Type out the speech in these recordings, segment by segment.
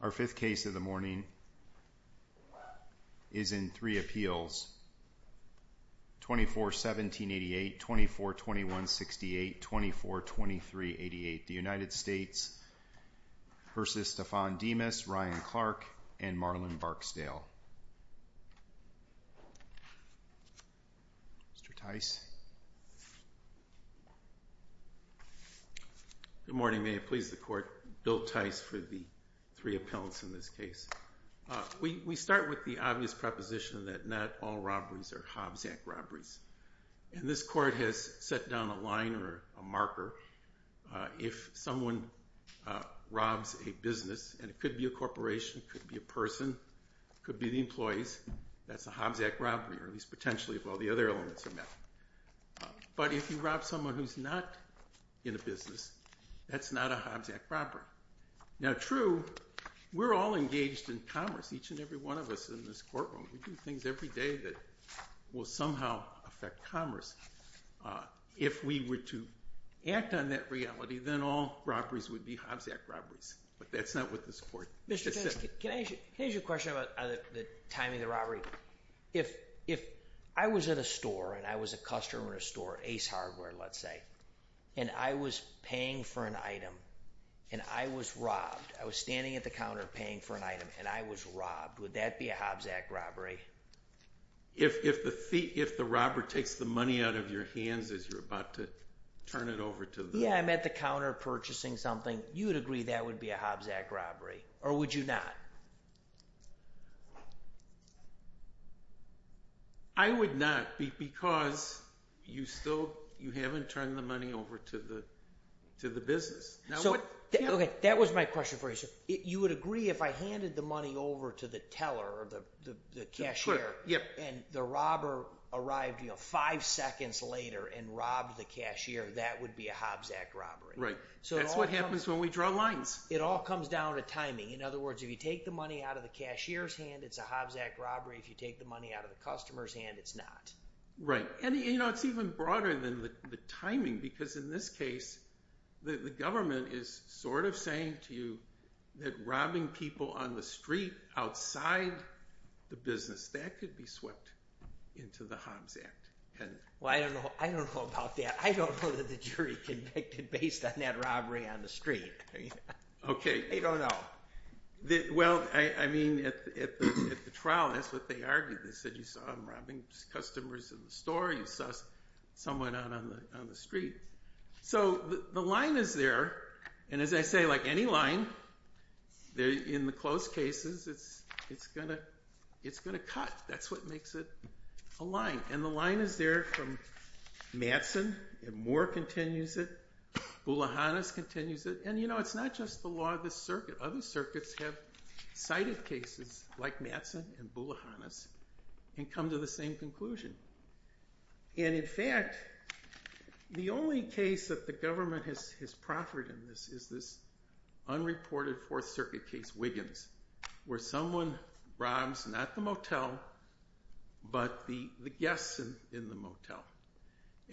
Our fifth case of the morning is in three appeals, 24-1788, 24-2168, 24-2388, the United States v. Stephon Demus, Ryan Clark, and Marlon Barksdale. Mr. Tice, Good morning. May it please the Court, Bill Tice for the three appellants in this case. We start with the obvious proposition that not all robberies are Hobbs Act robberies. And this Court has set down a line or a marker. If someone robs a business, and it could be a corporation, it could be a person, it could be the employees, that's a Hobbs Act robbery, or at least potentially if all the other elements are met. But if you rob someone who's not in a business, that's not a Hobbs Act robbery. Now true, we're all engaged in commerce, each and every one of us in this courtroom. We do things every day that will somehow affect commerce. If we were to act on that reality, then all robberies would be Hobbs Act robberies. But that's not what this Court has set. Mr. Tice, can I ask you a question about the timing of the robbery? If I was at a store, and I was a customer at a store, Ace Hardware let's say, and I was paying for an item, and I was robbed, I was standing at the counter paying for an item, and I was robbed, would that be a Hobbs Act robbery? If the robber takes the money out of your hands as you're about to turn it over to them. Yeah, I'm at the counter purchasing something, you would agree that would be a Hobbs Act robbery, or would you not? I would not, because you still haven't turned the money over to the business. Okay, that was my question for you, sir. You would agree if I handed the money over to the teller, the cashier, and the robber arrived five seconds later and robbed the cashier, that would be a Hobbs Act robbery. Right, that's what happens when we draw lines. It all comes down to timing. In other words, if you take the money out of the cashier's hand, it's a Hobbs Act robbery. If you take the money out of the customer's hand, it's not. Right, and it's even broader than the timing, because in this case, the government is sort of saying to you that robbing people on the street outside the business, that could be swept into the Hobbs Act. Well, I don't know about that. I don't know that the jury convicted based on that robbery on the street. Okay. I don't know. Well, I mean, at the trial, that's what they argued. They said you saw them robbing customers in the store, you saw someone out on the street. So the line is there, and as I say, like any line, in the close cases, it's going to cut. That's what makes it a line. And the line is there from Mattson, and Moore continues it, Bouloghanis continues it, and you know, it's not just the law of this circuit. Other circuits have cited cases like Mattson and Bouloghanis and come to the same conclusion. And in fact, the only case that the government has proffered in this is this unreported Fourth Circuit case, Wiggins, where someone robs not the motel, but the guests in the motel.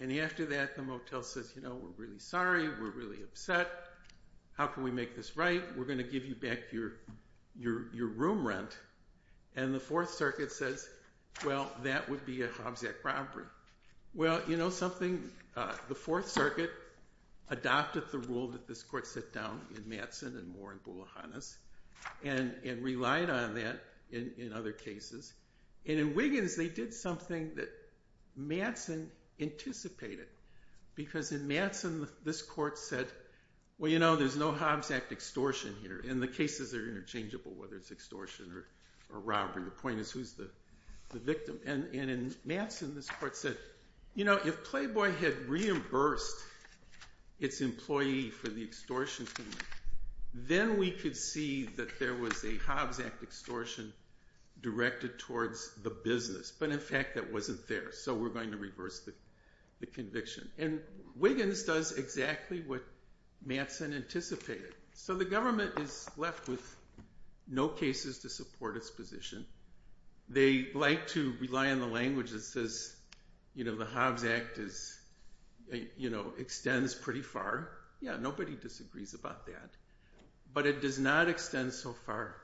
And after that, the motel says, you know, we're really sorry, we're really upset. How can we make this right? We're going to give you back your room rent. And the Fourth Circuit says, well, that would be a Hobbs Act robbery. Well, you know something? The Fourth Circuit adopted the rule that this court set down in Mattson and Moore and Bouloghanis, and relied on that in other cases. And in Wiggins, they did something that Mattson anticipated, because in Mattson, this court said, well, you know, there's no Hobbs Act extortion here, and the cases are interchangeable, whether it's extortion or robbery. The point is, who's the victim? And in Mattson, this court said, you know, if Playboy had reimbursed its employee for the extortion payment, then we could see that there was a Hobbs Act extortion directed towards the business. But in fact, that wasn't there, so we're going to reverse the conviction. And Wiggins does exactly what Mattson anticipated. So the government is left with no cases to support its position. They like to rely on a language that says, you know, the Hobbs Act extends pretty far. Yeah, nobody disagrees about that. But it does not extend so far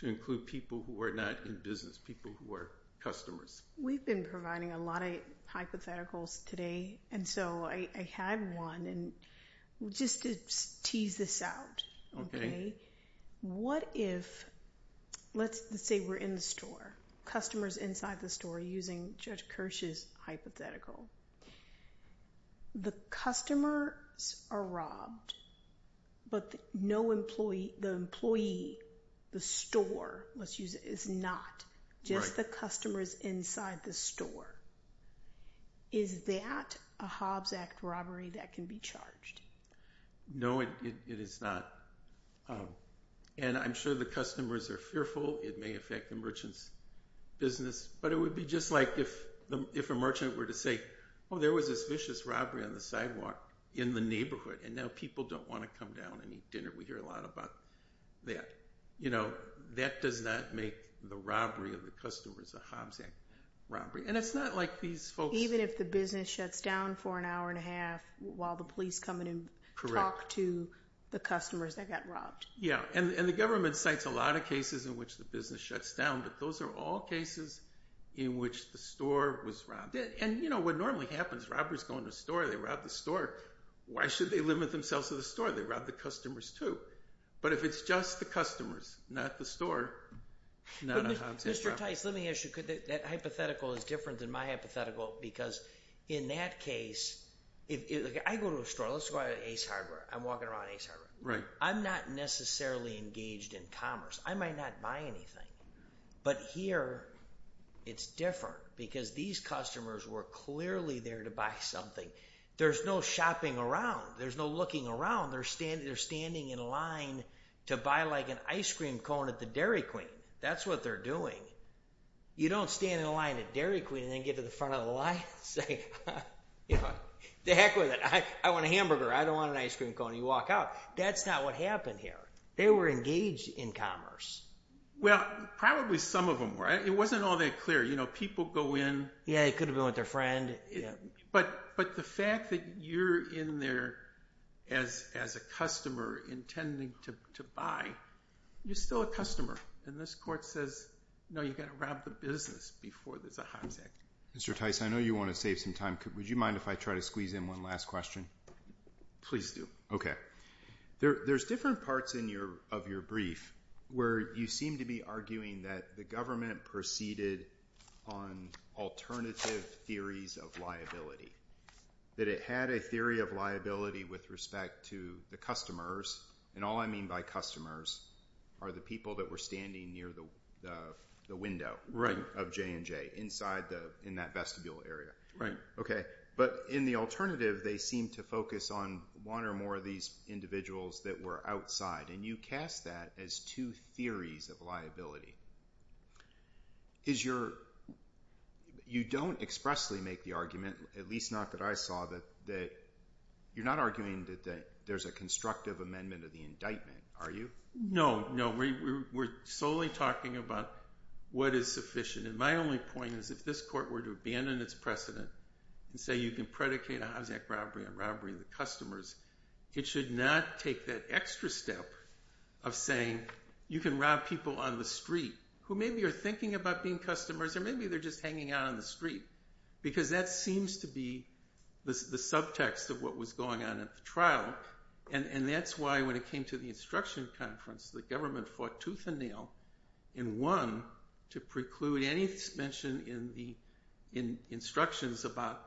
to include people who are not in business, people who are customers. We've been providing a lot of hypotheticals today, and so I have one. Just to tease this out, what if, let's say we're in the store, customers inside the store, using Judge Kirsch's hypothetical. The customers are robbed, but the employee, the store, let's use it, is not, just the customers inside the store. Is that a Hobbs Act robbery that can be charged? No, it is not. And I'm sure the customers are fearful. It may affect the merchant's business. But it would be just like if a merchant were to say, oh, there was this vicious robbery on the sidewalk in the neighborhood, and now people don't want to come down and eat dinner. We hear a lot about that. You know, that does not make the robbery of the customers a Hobbs Act robbery. And it's not like these folks- Even if the business shuts down for an hour and a half while the police come in and talk to the customers that got robbed. Yeah, and the government cites a lot of cases in which the business shuts down, but those are all cases in which the store was robbed. And you know, what normally happens, robbers go into a store, they rob the store, why should they limit themselves to the store? They rob the customers too. But if it's just the customers, not the store, not a Hobbs Act robbery. But Mr. Tice, let me ask you, could that hypothetical is different than my hypothetical? Because in that case, if I go to a store, let's go to Ace Hardware. I'm walking around Ace Hardware. I'm not necessarily engaged in commerce. I might not buy anything. But here, it's different because these customers were clearly there to buy something. There's no shopping around. There's no looking around. They're standing in line to buy like an ice cream cone at the Dairy Queen. That's what they're doing. You don't stand in line at Dairy Queen and then get to the front of the line and say, the heck with it. I want a hamburger. I don't want an ice cream cone. You walk out. That's not what happened here. They were engaged in commerce. Well, probably some of them were. It wasn't all that clear. You know, people go in. Yeah, it could have been with their friend. But the fact that you're in there as a customer intending to buy, you're still a customer. And this court says, no, you've got to rob the business before there's a Hobbs Act. Mr. Tice, I know you want to save some time. Would you mind if I try to squeeze in one last question? Please do. Okay. There's different parts of your brief where you seem to be arguing that the government proceeded on alternative theories of liability, that it had a theory of liability with respect to the customers. And all I mean by customers are the people that were standing near the window of J&J in that vestibule area. But in the alternative, they seem to focus on one or more of these individuals that were outside. And you cast that as two theories of liability. You don't expressly make the argument, at least not that I saw, that you're not arguing that there's a constructive amendment of the indictment, are you? No, no. We're solely talking about what is sufficient. And my only point is if this court were to abandon its precedent and say you can predicate a Hobbs Act robbery on robbering the customers, it should not take that extra step of saying you can rob people on the street who maybe are thinking about being customers or maybe they're just hanging out on the street. Because that seems to be the subtext of what was going on at the trial. And that's why when it came to the instruction conference, the government fought tooth and nail and won to preclude any mention in the instructions about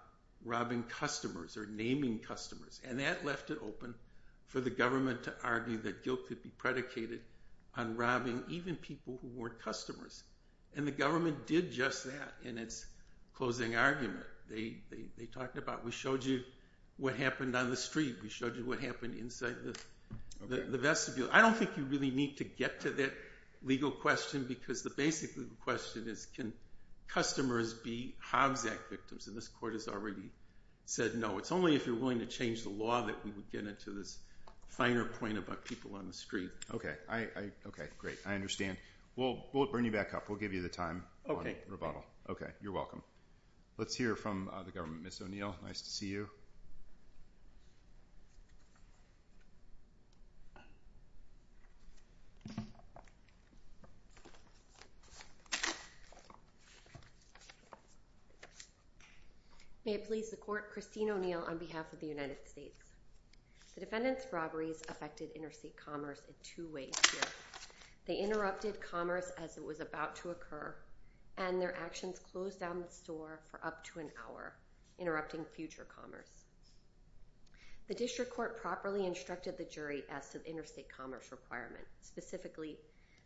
robbing customers or naming customers. And that left it open for the government to argue that guilt could be predicated on robbing even people who weren't customers. And the government did just that in its closing argument. They talked about we showed you what happened on the street. We showed you what happened inside the vestibule. I don't think you really need to get to that legal question because the basic legal question is can customers be Hobbs Act victims? And this court has already said no. It's only if you're willing to change the law that we would get into this finer point about people on the street. Okay. Great. I understand. We'll bring you back up. We'll give you the time on rebuttal. Okay. You're welcome. Let's hear from the government. Ms. O'Neill, nice to see you. May it please the court, Christine O'Neill on behalf of the United States. The defendant's robberies affected interstate commerce in two ways here. They interrupted commerce as it was about to occur and their actions closed down the store for up to an hour, interrupting future commerce. The district court properly instructed the jury as to the interstate commerce requirement, specifically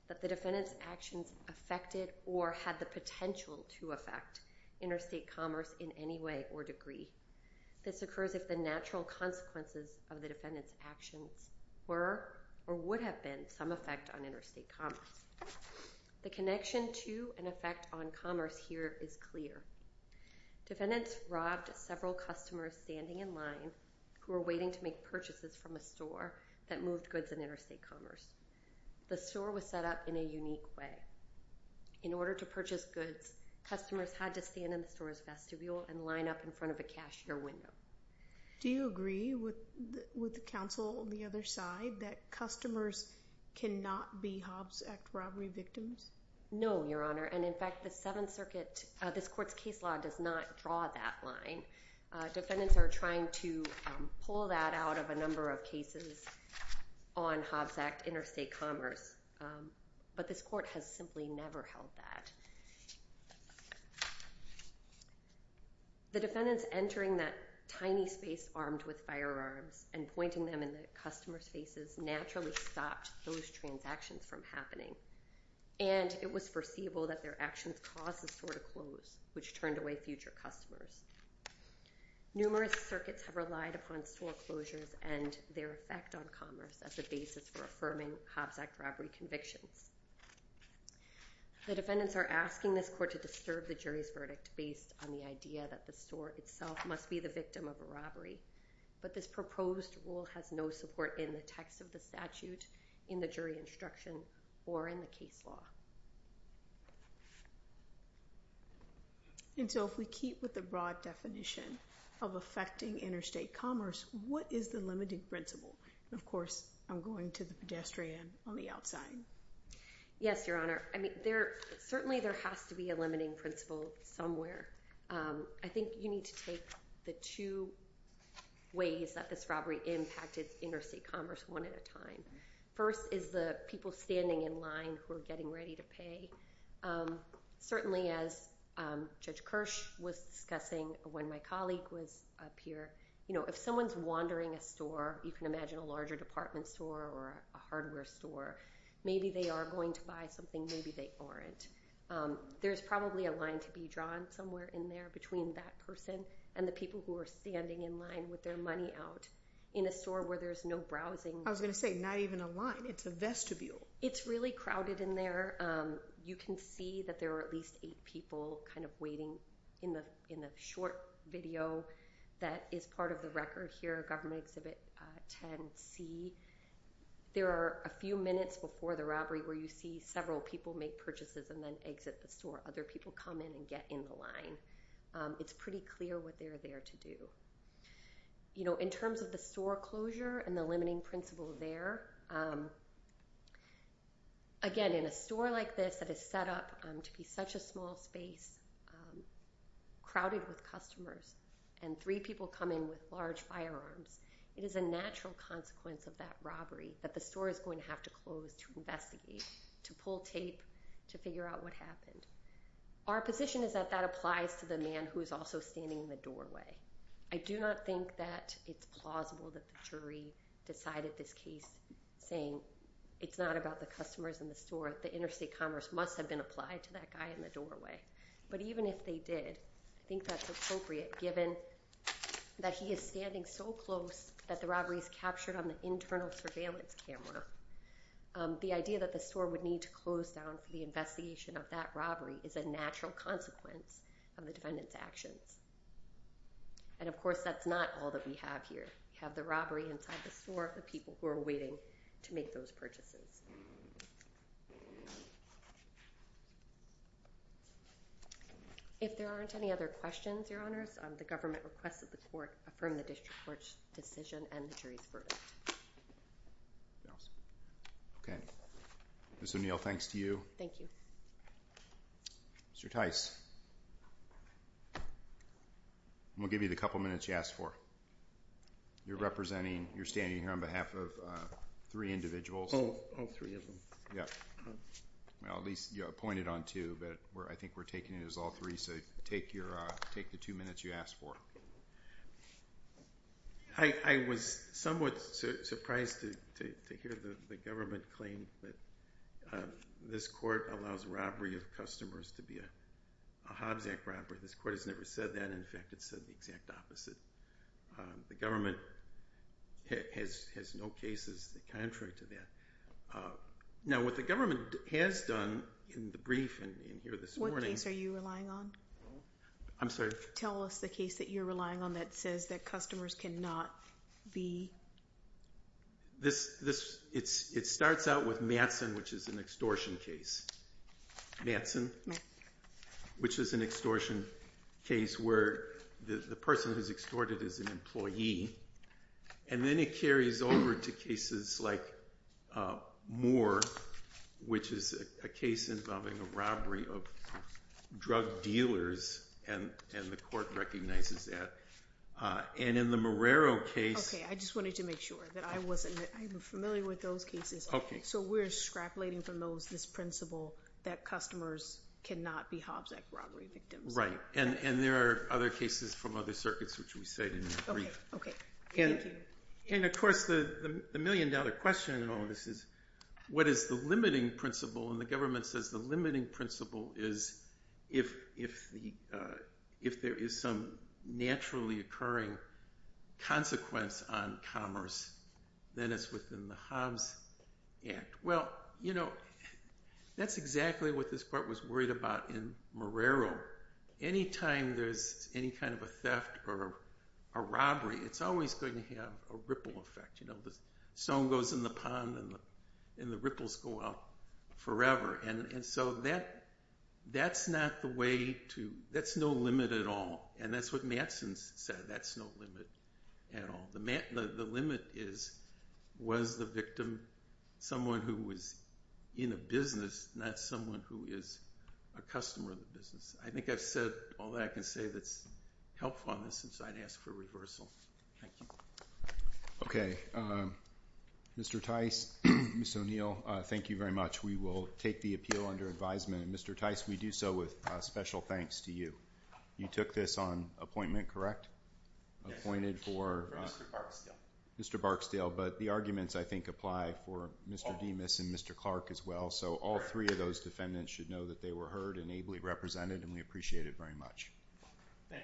that the defendant's actions affected or had the potential to affect interstate commerce in any way or degree. This occurs if the natural consequences of the defendant's actions were or would have been some effect on interstate commerce. The connection to an effect on commerce here is clear. Defendants robbed several customers standing in line who were waiting to make purchases from a store that moved goods in interstate commerce. The store was set up in a unique way. In order to purchase goods, customers had to stand in the store's vestibule and line up in front of a cashier window. Do you agree with the counsel on the other side that customers cannot be Hobbs Act robbery victims? No, Your Honor, and in fact, the Seventh Circuit, this court's case law does not draw that line. Defendants are trying to pull that out of a number of cases on Hobbs Act interstate commerce, but this court has simply never held that. The defendant's entering that tiny space armed with firearms and pointing them in the customer's faces naturally stopped those transactions from happening, and it was foreseeable that their actions caused the store to close, which turned away future customers. Numerous circuits have relied upon store closures and their effect on commerce as a basis for affirming Hobbs Act robbery convictions. The defendants are asking this court to disturb the jury's verdict based on the idea that the store itself must be the victim of a robbery, but this proposed rule has no support in the text of the statute, in the jury instruction, or in the case law. And so if we keep with the broad definition of affecting interstate commerce, what is the limiting principle? Of course, I'm going to the pedestrian on the outside. Yes, Your Honor. I think you need to take the two ways that this robbery impacted interstate commerce one at a time. First is the people standing in line who are getting ready to pay. Certainly as Judge Kirsch was discussing when my colleague was up here, you know, if someone's wandering a store, you can imagine a larger department store or a hardware store, maybe they are going to buy something, maybe they aren't. There's probably a line to be drawn somewhere in there between that person and the people who are standing in line with their money out in a store where there's no browsing. I was going to say, not even a line, it's a vestibule. It's really crowded in there. You can see that there are at least eight people kind of waiting in the short video that is part of the record here, Government Exhibit 10-C. There are a few minutes before the robbery where you see several people make purchases and then exit the store. Other people come in and get in the line. It's pretty clear what they're there to do. You know, in terms of the store closure and the limiting principle there, again, in a store like this that is set up to be such a small space, crowded with customers, and three people come in with large firearms, it is a natural consequence of that robbery that the store is going to have to close to investigate, to pull tape, to figure out what happened. Our position is that that applies to the man who is also standing in the doorway. I do not think that it's plausible that the jury decided this case saying it's not about the customers in the store, the interstate commerce must have been applied to that guy in the doorway. But even if they did, I think that's appropriate given that he is standing so close that the robbery is captured on the internal surveillance camera. The idea that the store would need to close down for the investigation of that robbery is a natural consequence of the defendant's actions. And of course, that's not all that we have here. We have the robbery inside the store, the people who are waiting to make those purchases. If there aren't any other questions, Your Honors, the government requests that the court affirm the district court's decision and the jury's verdict. Anything else? Okay. Ms. O'Neill, thanks to you. Thank you. Mr. Tice, I'm going to give you the couple of minutes. I was somewhat surprised to hear the government claim that this court allows robbery of customers to be a Hobbs Act robbery. This court has never said that. In fact, it has never referred to that. Now, what the government has done in the brief and here this morning... What case are you relying on? I'm sorry? Tell us the case that you're relying on that says that customers cannot be... It starts out with Mattson, which is an extortion case. Mattson, which is an extortion case where the person who's extorted is an employee. Then it carries over to cases like Moore, which is a case involving a robbery of drug dealers and the court recognizes that. In the Marrero case... Okay, I just wanted to make sure that I wasn't... I'm familiar with those cases. Okay. So we're scrapulating from this principle that customers cannot be Hobbs Act robbery victims. Right. There are other cases from other circuits, which we said in the brief. Okay. Thank you. Of course, the million dollar question in all of this is, what is the limiting principle? The government says the limiting principle is if there is some naturally occurring consequence on commerce, then it's within the Hobbs Act. Well, that's exactly what this court was worried about in Marrero. Anytime there's any kind of a theft or a robbery, it's always going to have a ripple effect. Stone goes in the pond and the ripples go out forever. That's no limit at all. That's what Mattson said. That's no limit at all. The limit is, was the victim someone who was in a business, not someone who is a customer of the business? I think I've said all that I can say that's helpful on this, and so I'd ask for reversal. Thank you. Okay. Mr. Tice, Mr. O'Neill, thank you very much. We will take the appeal under advisement. Mr. Tice, we do so with special thanks to you. You took this on appointment, correct? Appointed for... For Mr. Barksdale. Mr. Barksdale, but the arguments, I think, apply for Mr. Demas and Mr. Clark as well, so all three of those defendants should know that they were heard and ably represented, and we appreciate it very much. Thank you.